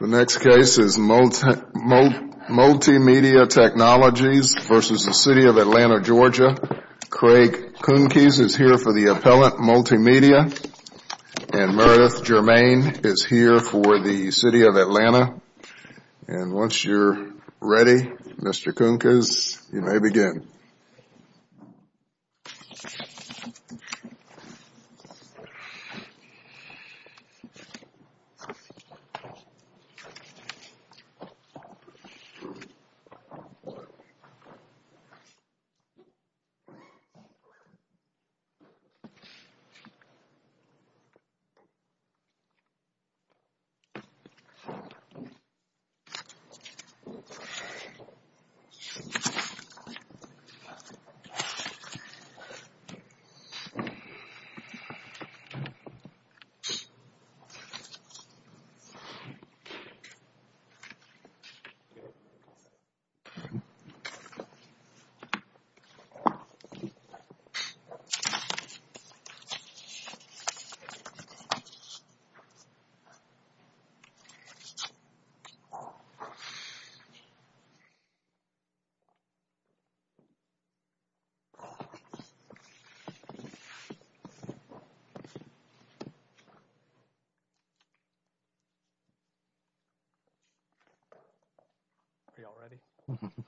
The next case is Multimedia Technologies v. City of Atlanta, Georgia. Craig Kunkes is here for the appellant, Multimedia. And Meredith Germain is here for the City of Atlanta. And once you're ready, Mr. Kunkes, you may begin. Are you all ready?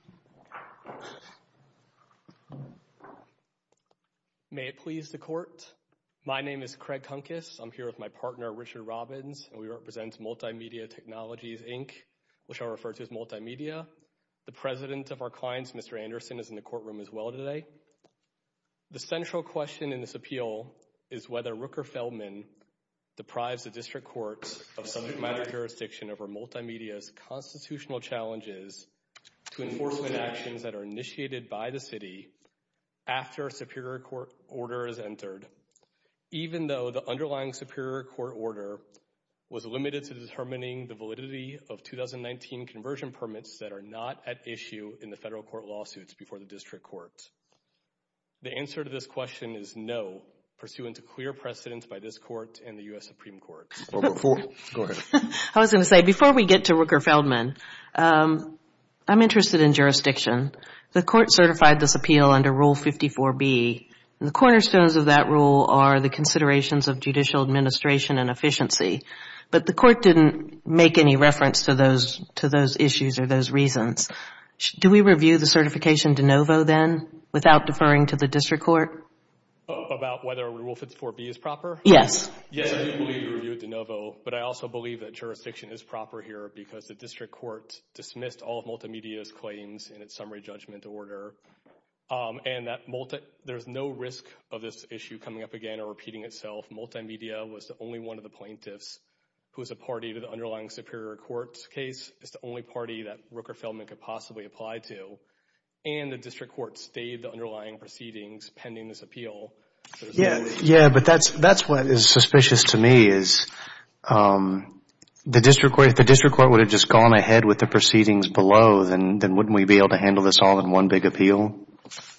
May it please the Court. My name is Craig Kunkes. I'm here with my partner, Richard Robbins, and we represent Multimedia Technologies, Inc., which I refer to as Multimedia. The president of our clients, Mr. Anderson, is in the courtroom as well today. The central question in this appeal is whether Rooker-Feldman deprives the District Courts of subject matter jurisdiction over Multimedia's constitutional challenges to enforcement actions that are initiated by the City after a Superior Court order is entered, even though the underlying Superior Court order was limited to determining the validity of 2019 conversion permits that are not at issue in the Federal Court lawsuits before the District Courts. The answer to this question is no, pursuant to clear precedence by this Court and the U.S. Supreme Court. Before we get to Rooker-Feldman, I'm interested in jurisdiction. The Court certified this appeal under Rule 54B. The cornerstones of that rule are the considerations of judicial administration and efficiency, but the Court didn't make any reference to those issues or those reasons. Do we review the certification de novo then without deferring to the District Court? About whether Rule 54B is proper? Yes. Yes, I do believe we review it de novo, but I also believe that jurisdiction is proper here because the District Court dismissed all of Multimedia's claims in its summary judgment order, and there's no risk of this issue coming up again or repeating itself. Multimedia was the only one of the plaintiffs who was a party to the underlying Superior Court case. It's the only party that Rooker-Feldman could possibly apply to, and the District Court stayed the underlying proceedings pending this appeal. Yes, but that's what is suspicious to me is if the District Court would have just gone ahead with the proceedings below, then wouldn't we be able to handle this all in one big appeal?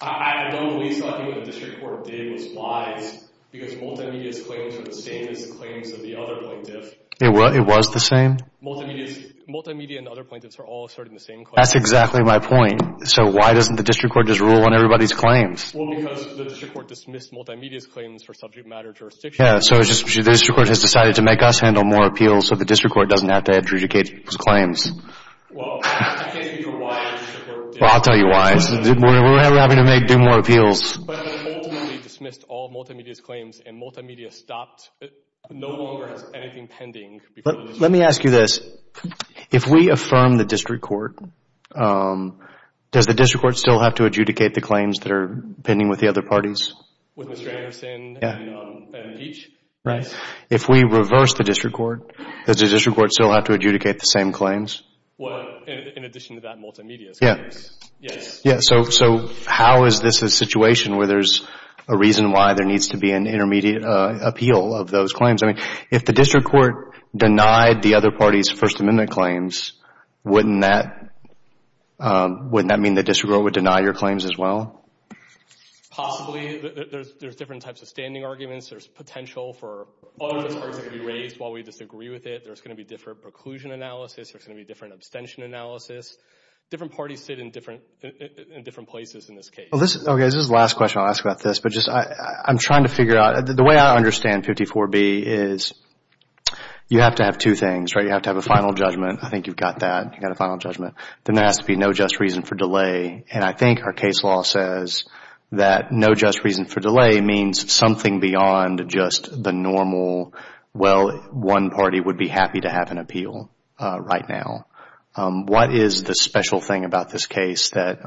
I don't believe something that the District Court did was wise because Multimedia's claims were the same as the claims of the other plaintiffs. It was the same? Multimedia and the other plaintiffs are all asserting the same claim. That's exactly my point. So why doesn't the District Court just rule on everybody's claims? Well, because the District Court dismissed Multimedia's claims for subject matter jurisdiction. Yeah, so the District Court has decided to make us handle more appeals so the District Court doesn't have to adjudicate its claims. Well, I can't speak for why the District Court did that. Well, I'll tell you why. We're having to do more appeals. But Multimedia dismissed all Multimedia's claims and Multimedia stopped, no longer has anything pending. Let me ask you this. If we affirm the District Court, does the District Court still have to adjudicate the claims that are pending with the other parties? With Mr. Anderson and Peach? Right. If we reverse the District Court, does the District Court still have to adjudicate the same claims? In addition to that Multimedia's claims? Yes. So how is this a situation where there's a reason why there needs to be an intermediate appeal of those claims? I mean, if the District Court denied the other parties' First Amendment claims, wouldn't that mean the District Court would deny your claims as well? Possibly. There's different types of standing arguments. There's potential for other concerns to be raised while we disagree with it. There's going to be different preclusion analysis. There's going to be different abstention analysis. Different parties sit in different places in this case. This is the last question I'll ask about this. I'm trying to figure out. The way I understand 54B is you have to have two things. You have to have a final judgment. I think you've got that. You've got a final judgment. Then there has to be no just reason for delay. And I think our case law says that no just reason for delay means something beyond just the normal, well, one party would be happy to have an appeal right now. What is the special thing about this case that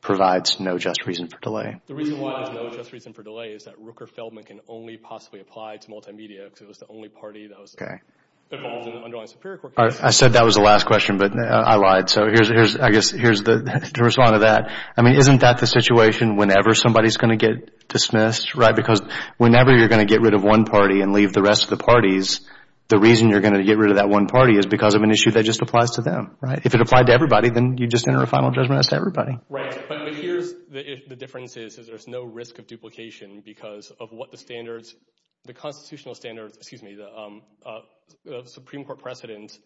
provides no just reason for delay? The reason why there's no just reason for delay is that Rooker-Feldman can only possibly apply to multimedia because it was the only party that was involved in the underlying Superior Court case. I said that was the last question, but I lied. So here's the response to that. I mean, isn't that the situation whenever somebody's going to get dismissed? Because whenever you're going to get rid of one party and leave the rest of the parties, the reason you're going to get rid of that one party is because of an issue that just applies to them. If it applied to everybody, then you just enter a final judgment as to everybody. Right. But here's the difference is there's no risk of duplication because of what the standards, the constitutional standards, excuse me, the Supreme Court precedent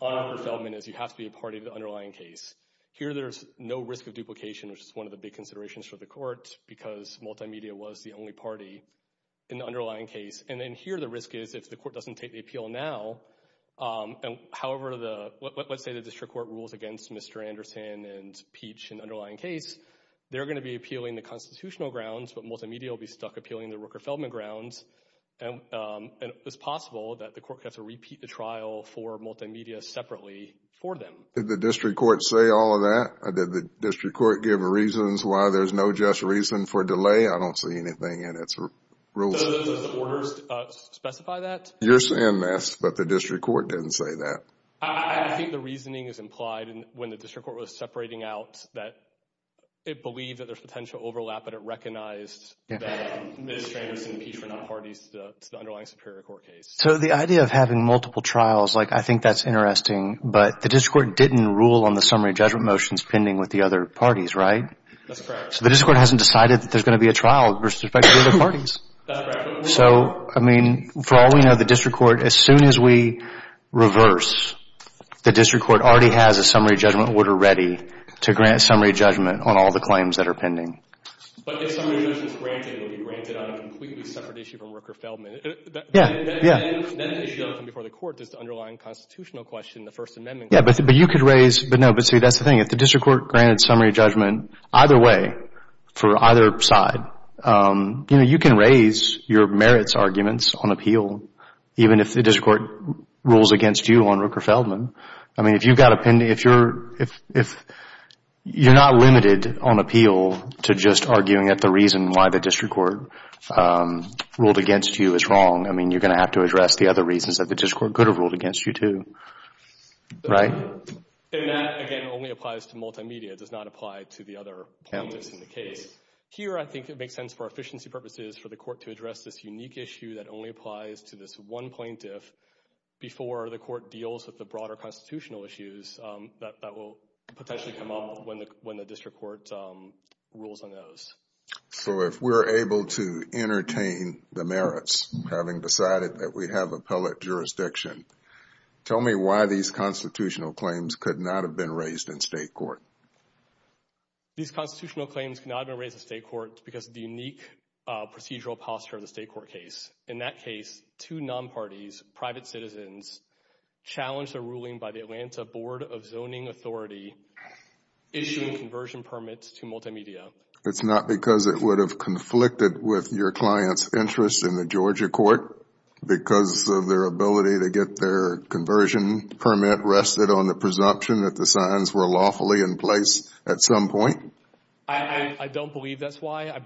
on Rooker-Feldman is you have to be a party to the underlying case. Here there's no risk of duplication, which is one of the big considerations for the court because multimedia was the only party in the underlying case. And then here the risk is if the court doesn't take the appeal now, however, let's say the district court rules against Mr. Anderson and Peach in the underlying case, they're going to be appealing the constitutional grounds, but multimedia will be stuck appealing the Rooker-Feldman grounds. And it's possible that the court has to repeat the trial for multimedia separately for them. Did the district court say all of that? Did the district court give reasons why there's no just reason for delay? I don't see anything in its rules. So does the orders specify that? You're saying this, but the district court didn't say that. I think the reasoning is implied when the district court was separating out that it believed that there's potential overlap, but it recognized that Mr. Anderson and Peach were not parties to the underlying Superior Court case. So the idea of having multiple trials, like I think that's interesting, but the district court didn't rule on the summary judgment motions pending with the other parties, right? That's correct. So the district court hasn't decided that there's going to be a trial with respect to the other parties. That's correct. So, I mean, for all we know, the district court, as soon as we reverse, the district court already has a summary judgment order ready to grant summary judgment on all the claims that are pending. But if summary judgment is granted, it will be granted on a completely separate issue from Rooker-Feldman. Yeah, yeah. Then the issue doesn't come before the court, just the underlying constitutional question, the First Amendment question. Yeah, but you could raise, but no, but see, that's the thing. If the district court granted summary judgment either way, for either side, you know, you can raise your merits arguments on appeal, even if the district court rules against you on Rooker-Feldman. I mean, if you've got a pending, if you're not limited on appeal to just arguing that the reason why the district court ruled against you is wrong, I mean, you're going to have to address the other reasons that the district court could have ruled against you, too. Right? And that, again, only applies to multimedia. It does not apply to the other points in the case. Here, I think it makes sense for efficiency purposes for the court to address this unique issue that only applies to this one plaintiff before the court deals with the broader constitutional issues that will potentially come up when the district court rules on those. So if we're able to entertain the merits, having decided that we have appellate jurisdiction, tell me why these constitutional claims could not have been raised in state court. These constitutional claims could not have been raised in state court because of the unique procedural posture of the state court case. In that case, two non-parties, private citizens, challenged a ruling by the Atlanta Board of Zoning Authority issuing conversion permits to multimedia. It's not because it would have conflicted with your client's interest in the Georgia court because of their ability to get their conversion permit that the signs were lawfully in place at some point? I don't believe that's why.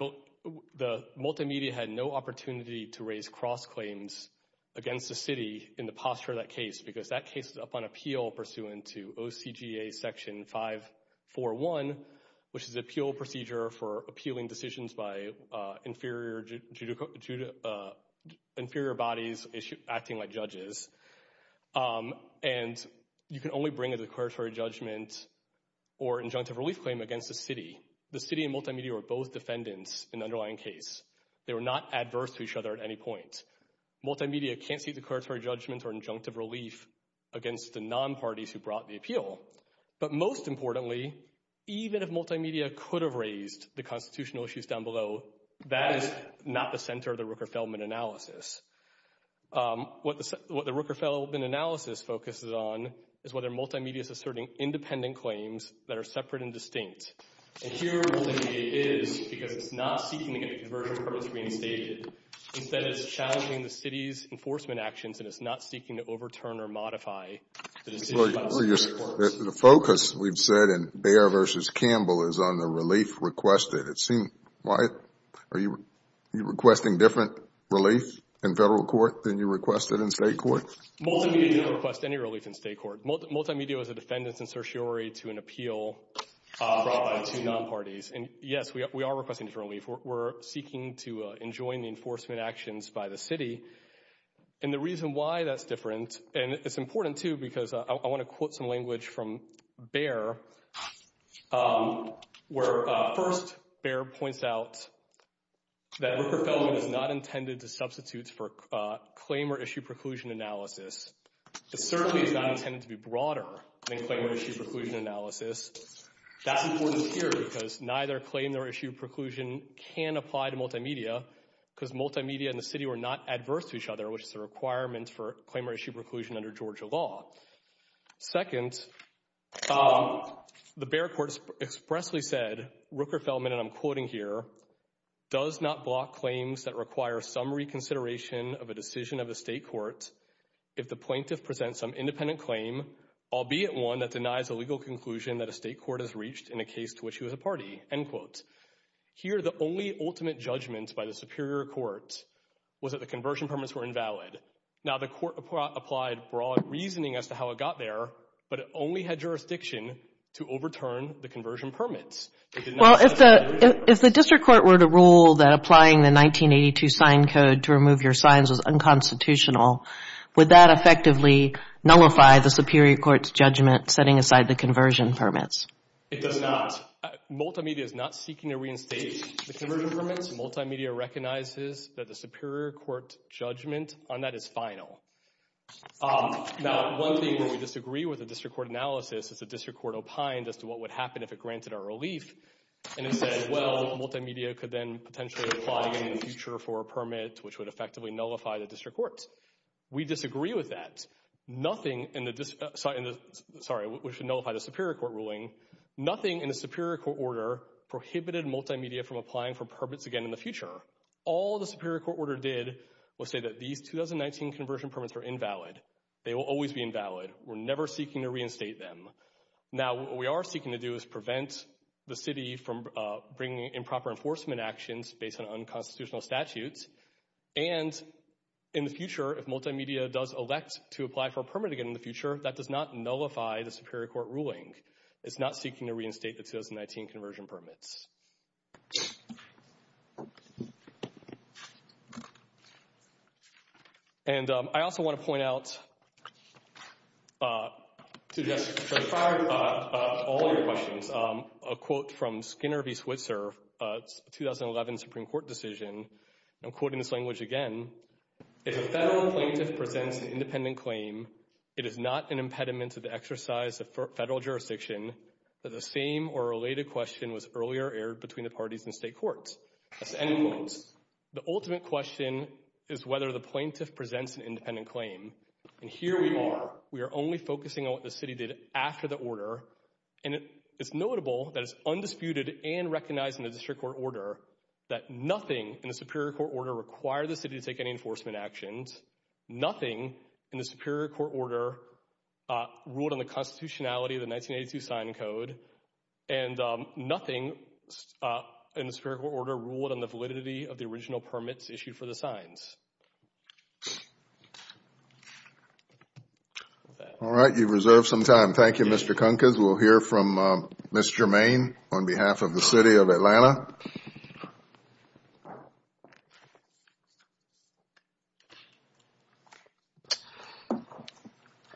The multimedia had no opportunity to raise cross-claims against the city in the posture of that case because that case is up on appeal pursuant to OCGA Section 541, which is an appeal procedure for appealing decisions by inferior bodies acting like judges. And you can only bring a declaratory judgment or injunctive relief claim against the city. The city and multimedia were both defendants in the underlying case. They were not adverse to each other at any point. Multimedia can't seek declaratory judgment or injunctive relief against the non-parties who brought the appeal. But most importantly, even if multimedia could have raised the constitutional issues down below, that is not the center of the Rooker-Feldman analysis. What the Rooker-Feldman analysis focuses on is whether multimedia is asserting independent claims that are separate and distinct. And here, multimedia is because it's not seeking to get a conversion permit reinstated. Instead, it's challenging the city's enforcement actions and it's not seeking to overturn or modify the decision by the city courts. The focus, we've said, in Bayer v. Campbell is on the relief requested. Wyatt, are you requesting different relief in federal court than you requested in state court? Multimedia doesn't request any relief in state court. Multimedia was a defendant's insertiory to an appeal brought by two non-parties. And yes, we are requesting different relief. We're seeking to enjoin the enforcement actions by the city. And the reason why that's different, and it's important too because I want to quote some language from Bayer, where first, Bayer points out that Rooker-Feldman is not intended to substitute for claim or issue preclusion analysis. It certainly is not intended to be broader than claim or issue preclusion analysis. That's important here because neither claim nor issue preclusion can apply to multimedia because multimedia and the city are not adverse to each other, which is a requirement for claim or issue preclusion under Georgia law. Second, the Bayer court expressly said, Rooker-Feldman, and I'm quoting here, does not block claims that require summary consideration of a decision of a state court if the plaintiff presents some independent claim, albeit one that denies a legal conclusion that a state court has reached in a case to which he was a party. Here, the only ultimate judgment by the Superior Court was that the conversion permits were invalid. Now, the court applied broad reasoning as to how it got there, but it only had jurisdiction to overturn the conversion permits. Well, if the district court were to rule that applying the 1982 sign code to remove your signs was unconstitutional, would that effectively nullify the Superior Court's judgment setting aside the conversion permits? It does not. Multimedia is not seeking to reinstate the conversion permits. Multimedia recognizes that the Superior Court judgment on that is final. Now, one thing where we disagree with the district court analysis is the district court opined as to what would happen if it granted our relief, and it said, well, Multimedia could then potentially apply again in the future for a permit which would effectively nullify the district court's. We disagree with that. Nothing in the district... Sorry, we should nullify the Superior Court ruling. Nothing in the Superior Court order prohibited Multimedia from applying for permits again in the future. All the Superior Court order did was say that these 2019 conversion permits are invalid. They will always be invalid. We're never seeking to reinstate them. Now, what we are seeking to do is prevent the city from bringing improper enforcement actions based on unconstitutional statutes, and in the future, if Multimedia does elect to apply for a permit again in the future, that does not nullify the Superior Court ruling. It's not seeking to reinstate the 2019 conversion permits. And I also want to point out, to just clarify all your questions, a quote from Skinner v. Switzer, a 2011 Supreme Court decision. I'm quoting this language again. If a federal plaintiff presents an independent claim, it is not an impediment to the exercise of federal jurisdiction that the same or related question was earlier aired between the parties in state courts. That's the end quote. The ultimate question is whether the plaintiff presents an independent claim. And here we are. We are only focusing on what the city did after the order. And it's notable that it's undisputed and recognized in the District Court order that nothing in the Superior Court order required the city to take any enforcement actions, nothing in the Superior Court order ruled on the constitutionality of the 1982 sign code, and nothing in the Superior Court order ruled on the validity of the original permits issued for the signs. All right. You've reserved some time. Thank you, Mr. Kunkes. We'll hear from Ms. Germain on behalf of the City of Atlanta.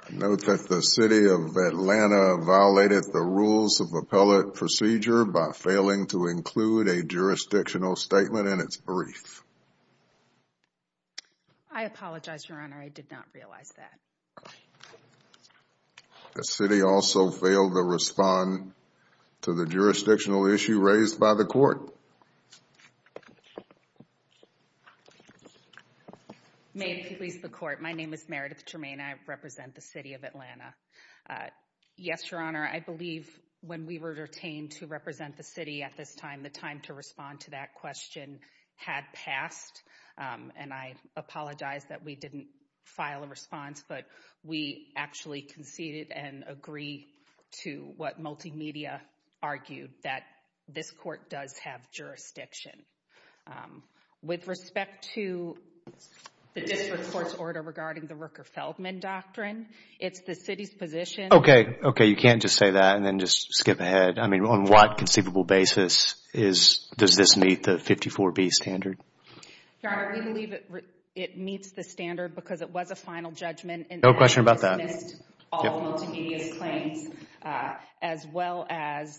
I note that the City of Atlanta violated the rules of appellate procedure by failing to include a jurisdictional statement in its brief. I apologize, Your Honor. I did not realize that. The city also failed to respond to the jurisdictional issue raised by the court. May it please the court. My name is Meredith Germain. I represent the City of Atlanta. Yes, Your Honor, I believe when we were detained to represent the city at this time, the time to respond to that question had passed, and I apologize that we didn't file a response, but we actually conceded and agree to what multimedia argued, that this court does have jurisdiction. With respect to the district court's order regarding the Rooker-Feldman doctrine, it's the city's position... Okay, okay, you can't just say that and then just skip ahead. I mean, on what conceivable basis does this meet the 54B standard? Your Honor, we believe it meets the standard because it was a final judgment. No question about that. And it dismissed all multimedia's claims as well as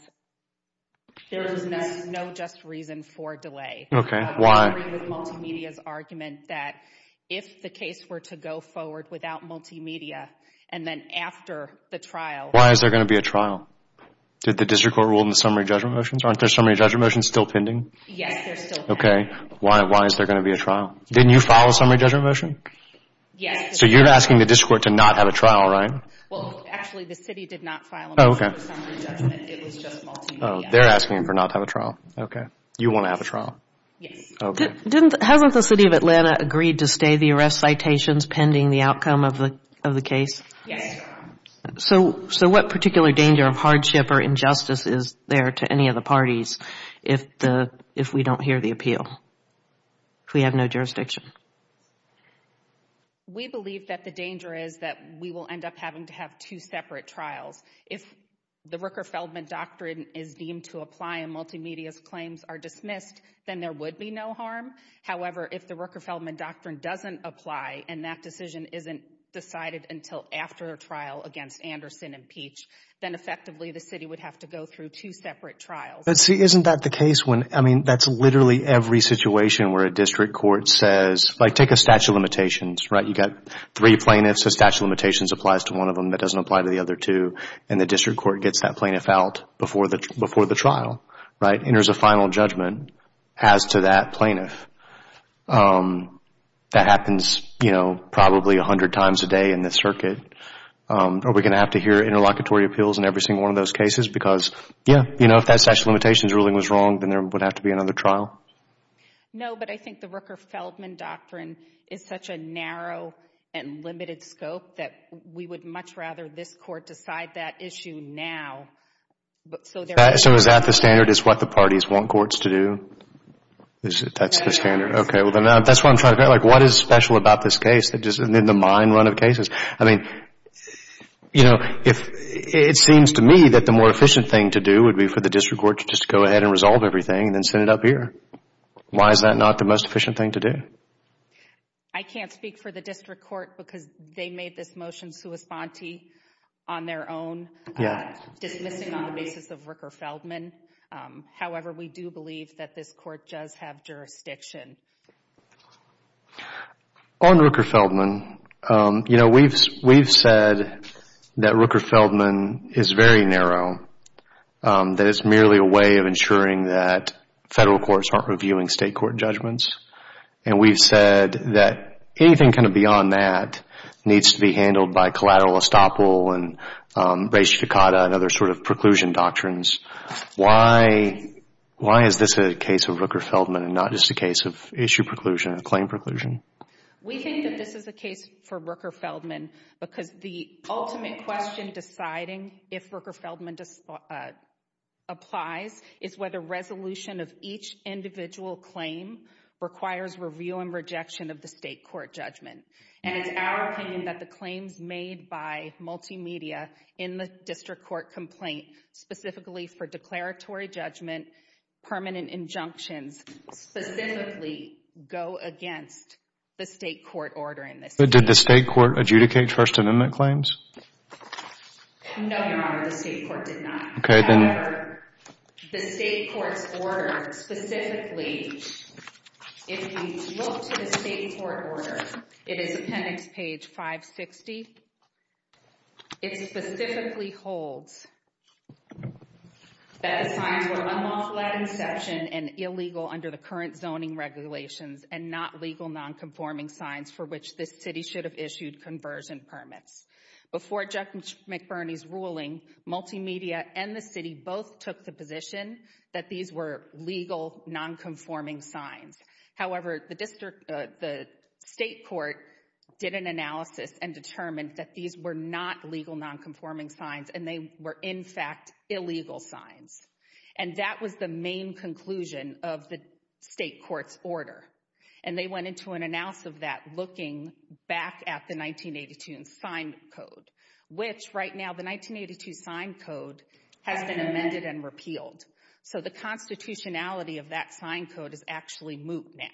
there is no just reason for delay. Okay, why? Agreeing with multimedia's argument that if the case were to go forward without multimedia and then after the trial... Why is there going to be a trial? Did the district court rule in the summary judgment motions? Aren't the summary judgment motions still pending? Yes, they're still pending. Okay. Why is there going to be a trial? Didn't you file a summary judgment motion? Yes. So you're asking the district court to not have a trial, right? Well, actually, the city did not file a motion for summary judgment. It was just multimedia. Oh, they're asking for not to have a trial. Okay. You want to have a trial? Yes. Okay. Hasn't the city of Atlanta agreed to stay the arrest citations pending the outcome of the case? Yes, Your Honor. So what particular danger of hardship or injustice is there to any of the parties if we don't hear the appeal, if we have no jurisdiction? We believe that the danger is that we will end up having to have two separate trials. If the Rooker-Feldman Doctrine is deemed to apply and multimedia's claims are dismissed, then there would be no harm. However, if the Rooker-Feldman Doctrine doesn't apply and that decision isn't decided until after a trial against Anderson and Peach, then effectively the city would have to go through two separate trials. But see, isn't that the case when, I mean, that's literally every situation where a district court says, like take a statute of limitations, right? You've got three plaintiffs, a statute of limitations applies to one of them that doesn't apply to the other two, and the district court gets that plaintiff out before the trial, right? And there's a final judgment as to that plaintiff. That happens, you know, probably a hundred times a day in the circuit. Are we going to have to hear interlocutory appeals in every single one of those cases? Because, yeah, you know, if that statute of limitations ruling was wrong, then there would have to be another trial. No, but I think the Rooker-Feldman Doctrine is such a narrow and limited scope that we would much rather this court decide that issue now. So is that the standard, is what the parties want courts to do? Is that the standard? Okay, well, then that's what I'm trying to figure out. Like, what is special about this case that just isn't in the mind run of cases? I mean, you know, it seems to me that the more efficient thing to do would be for the district court to just go ahead and resolve everything and then send it up here. Why is that not the most efficient thing to do? I can't speak for the district court because they made this motion sui sponte on their own, dismissing on the basis of Rooker-Feldman. However, we do believe that this court does have jurisdiction. On Rooker-Feldman, you know, we've said that Rooker-Feldman is very narrow, that it's merely a way of ensuring that federal courts aren't reviewing state court judgments. And we've said that anything kind of beyond that needs to be handled by collateral estoppel and res ficata and other sort of preclusion doctrines. Why is this a case of Rooker-Feldman and not just a case of issue preclusion, a claim preclusion? We think that this is a case for Rooker-Feldman because the ultimate question deciding if Rooker-Feldman applies is whether resolution of each individual claim requires review and rejection of the state court judgment. And it's our opinion that the claims made by multimedia in the district court complaint, specifically for declaratory judgment, permanent injunctions, specifically go against the state court order in this case. But did the state court adjudicate first amendment claims? No, Your Honor, the state court did not. However, the state court's order specifically, if we look to the state court order, it is appendix page 560. It specifically holds that the signs were unlawful at inception and illegal under the current zoning regulations and not legal nonconforming signs for which this city should have issued conversion permits. Before Judge McBurney's ruling, multimedia and the city both took the position that these were legal nonconforming signs. However, the state court did an analysis and determined that these were not legal nonconforming signs and they were, in fact, illegal signs. And that was the main conclusion of the state court's order. And they went into an analysis of that looking back at the 1982 sign code, which right now, the 1982 sign code has been amended and repealed. So the constitutionality of that sign code is actually moot now.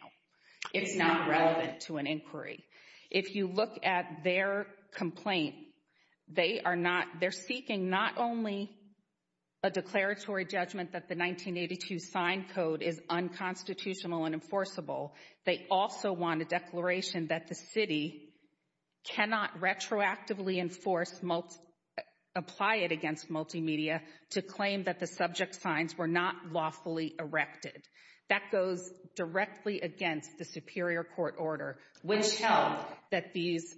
It's not relevant to an inquiry. If you look at their complaint, they are seeking not only a declaratory judgment that the 1982 sign code is unconstitutional and enforceable, they also want a declaration that the city cannot retroactively apply it against multimedia to claim that the subject signs were not lawfully erected. That goes directly against the Superior Court order, which held that these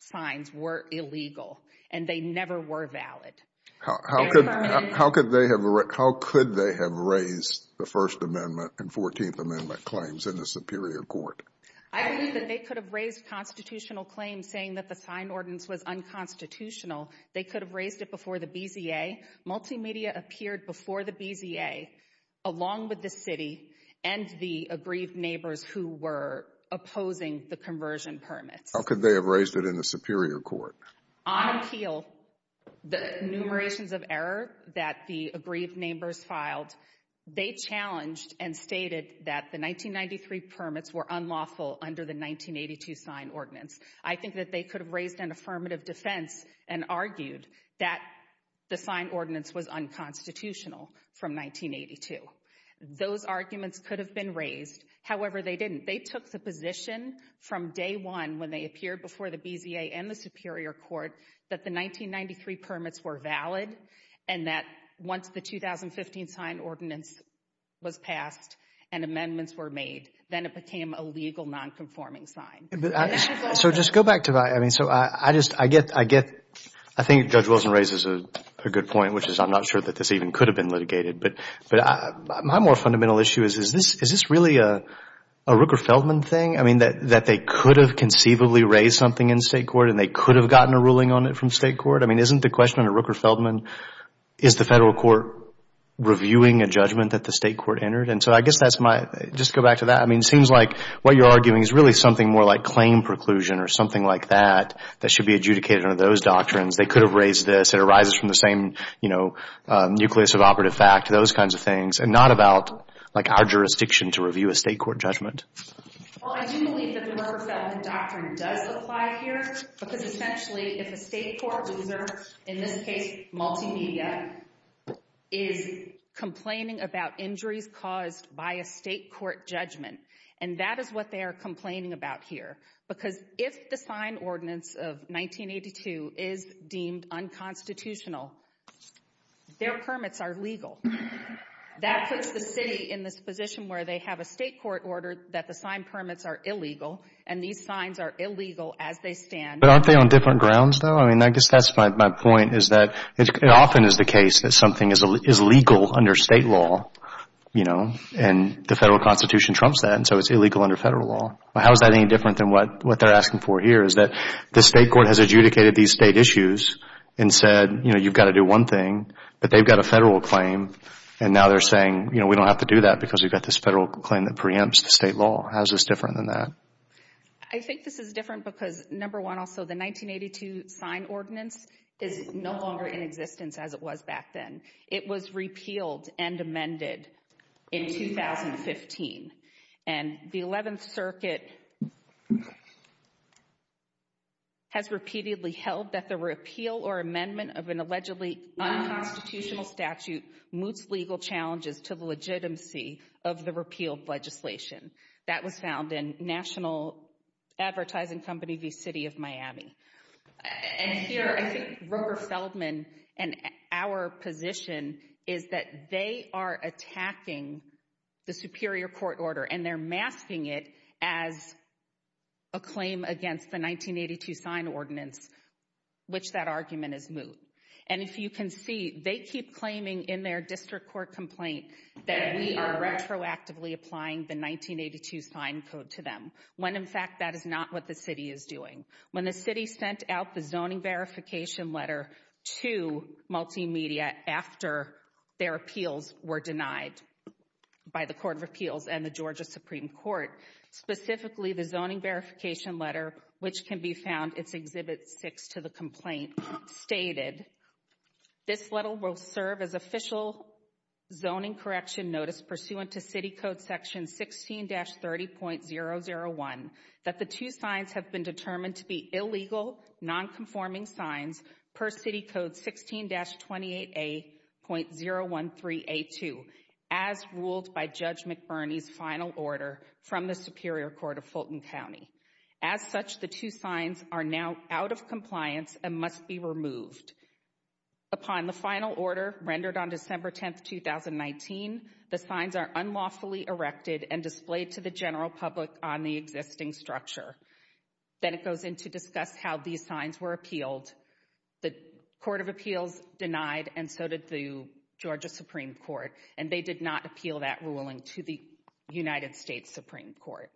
signs were illegal and they never were valid. How could they have raised the First Amendment and Fourteenth Amendment claims in the Superior Court? I believe that they could have raised constitutional claims saying that the sign ordinance was unconstitutional. They could have raised it before the BZA. Multimedia appeared before the BZA. Along with the city and the aggrieved neighbors who were opposing the conversion permits. How could they have raised it in the Superior Court? On appeal, the enumerations of error that the aggrieved neighbors filed, they challenged and stated that the 1993 permits were unlawful under the 1982 sign ordinance. I think that they could have raised an affirmative defense and argued that the sign ordinance was unconstitutional from 1982. Those arguments could have been raised. However, they didn't. They took the position from day one when they appeared before the BZA and the Superior Court that the 1993 permits were valid and that once the 2015 sign ordinance was passed and amendments were made, then it became a legal nonconforming sign. So just go back to that. I mean, so I just, I get, I get. I think Judge Wilson raises a good point, which is I'm not sure that this even could have been litigated. But my more fundamental issue is, is this really a Rooker-Feldman thing? I mean, that they could have conceivably raised something in state court and they could have gotten a ruling on it from state court? I mean, isn't the question under Rooker-Feldman, is the federal court reviewing a judgment that the state court entered? And so I guess that's my, just go back to that. I mean, it seems like what you're arguing is really something more like claim preclusion or something like that that should be adjudicated under those doctrines. They could have raised this. It's something that arises from the same, you know, nucleus of operative fact, those kinds of things, and not about, like, our jurisdiction to review a state court judgment. Well, I do believe that the Rooker-Feldman doctrine does apply here. Because essentially, if a state court loser, in this case, multimedia, is complaining about injuries caused by a state court judgment, and that is what they are complaining about here. Because if the signed ordinance of 1982 is deemed unconstitutional, their permits are legal. That puts the city in this position where they have a state court order that the signed permits are illegal, and these signs are illegal as they stand. But aren't they on different grounds, though? I mean, I guess that's my point, is that it often is the case that something is legal under state law, you know, and the federal constitution trumps that, and so it's illegal under federal law. How is that any different than what they're asking for here, is that the state court has adjudicated these state issues and said, you know, you've got to do one thing, but they've got a federal claim, and now they're saying, you know, we don't have to do that because we've got this federal claim that preempts the state law. How is this different than that? I think this is different because, number one, also the 1982 signed ordinance is no longer in existence as it was back then. It was repealed and amended in 2015. And the 11th Circuit has repeatedly held that the repeal or amendment of an allegedly unconstitutional statute moots legal challenges to the legitimacy of the repealed legislation. That was found in National Advertising Company v. City of Miami. And here, I think Roper Feldman and our position is that they are attacking the Superior Court order and they're masking it as a claim against the 1982 signed ordinance, which that argument is moot. And if you can see, they keep claiming in their district court complaint that we are retroactively applying the 1982 signed code to them, when, in fact, that is not what the city is doing. When the city sent out the zoning verification letter to Multimedia after their appeals were denied by the Court of Appeals and the Georgia Supreme Court, specifically the zoning verification letter, which can be found, it's Exhibit 6 to the complaint, stated, this letter will serve as official zoning correction notice pursuant to City Code Section 16-30.001 that the two signs have been determined to be illegal, nonconforming signs per City Code 16-28A.013A2, as ruled by Judge McBurney's final order from the Superior Court of Fulton County. As such, the two signs are now out of compliance and must be removed. Upon the final order, rendered on December 10, 2019, the signs are unlawfully erected and displayed to the general public on the existing structure. Then it goes into discuss how these signs were appealed. The Court of Appeals denied, and so did the Georgia Supreme Court, and they did not appeal that ruling to the United States Supreme Court.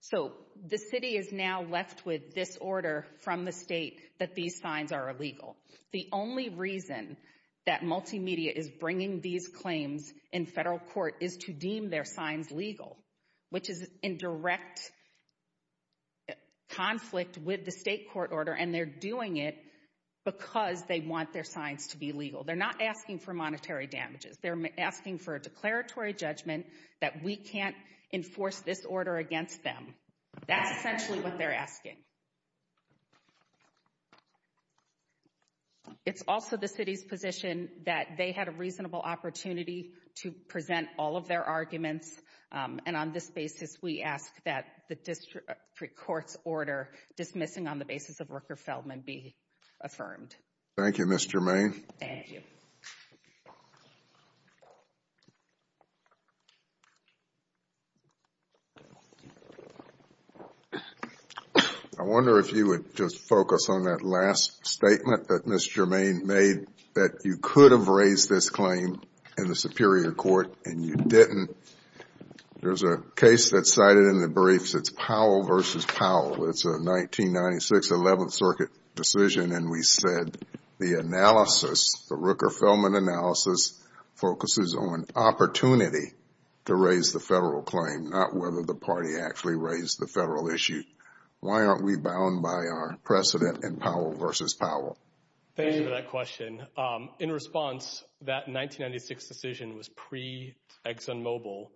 So the city is now left with this order from the state that these signs are illegal. The only reason that Multimedia is bringing these claims in federal court is to deem their signs legal, which is in direct conflict with the state court order, and they're doing it because they want their signs to be legal. They're not asking for monetary damages. They're asking for a declaratory judgment that we can't enforce this order against them. That's essentially what they're asking. It's also the city's position that they had a reasonable opportunity to present all of their arguments and on this basis we ask that the district court's order dismissing on the basis of Rooker-Feldman be affirmed. Thank you, Ms. Germain. Thank you. I wonder if you would just focus on that last statement that Ms. Germain made, that you could have raised this claim in the Superior Court and you didn't. There's a case that's cited in the briefs. It's Powell v. Powell. It's a 1996 11th Circuit decision, and we said the analysis, the Rooker-Feldman analysis, focuses on opportunity to raise the federal claim, not whether the party actually raised the federal issue. Why aren't we bound by our precedent in Powell v. Powell? Thank you for that question. In response, that 1996 decision was pre-ExxonMobil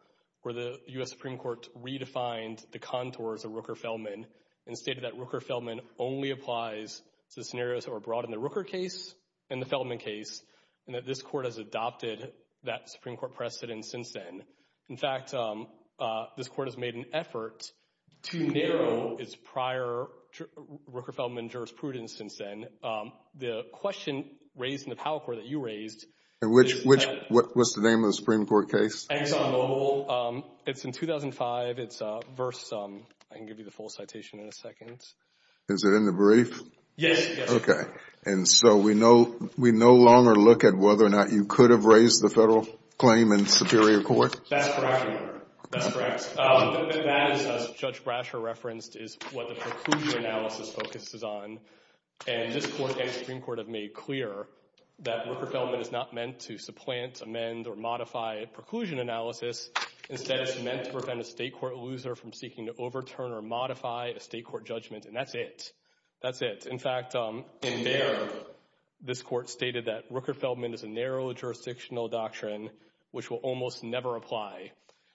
where the U.S. Supreme Court redefined the contours of Rooker-Feldman and stated that Rooker-Feldman only applies to scenarios that were brought in the Rooker case and the Feldman case, and that this court has adopted that Supreme Court precedent since then. In fact, this court has made an effort to narrow its prior Rooker-Feldman jurisprudence since then. The question raised in the Powell court that you raised... What's the name of the Supreme Court case? ExxonMobil. It's in 2005. It's verse... I can give you the full citation in a second. Is it in the brief? Yes. Okay. And so we no longer look at whether or not you could have raised the federal claim in Superior Court? That's correct. That's correct. As Judge Brasher referenced, is what the preclusion analysis focuses on, and this court and Supreme Court have made clear that Rooker-Feldman is not meant to supplant, amend, or modify a preclusion analysis. Instead, it's meant to prevent a state court loser from seeking to overturn or modify a state court judgment, and that's it. That's it. In fact, in there, this court stated that Rooker-Feldman is a narrow jurisdictional doctrine which will almost never apply.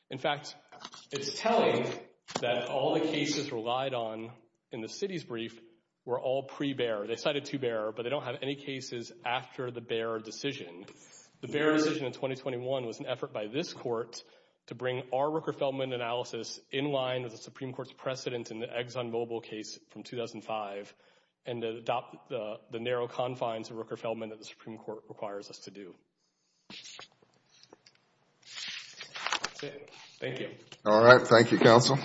In fact, it's telling that all the cases relied on in the city's brief were all pre-Behr. They cited to Behr, but they don't have any cases after the Behr decision. The Behr decision in 2021 was an effort by this court to bring our Rooker-Feldman analysis in line with the Supreme Court's precedent in the ExxonMobil case from 2005 and to adopt the narrow confines of Rooker-Feldman that the Supreme Court requires us to do. That's it. Thank you. All right. Thank you, counsel.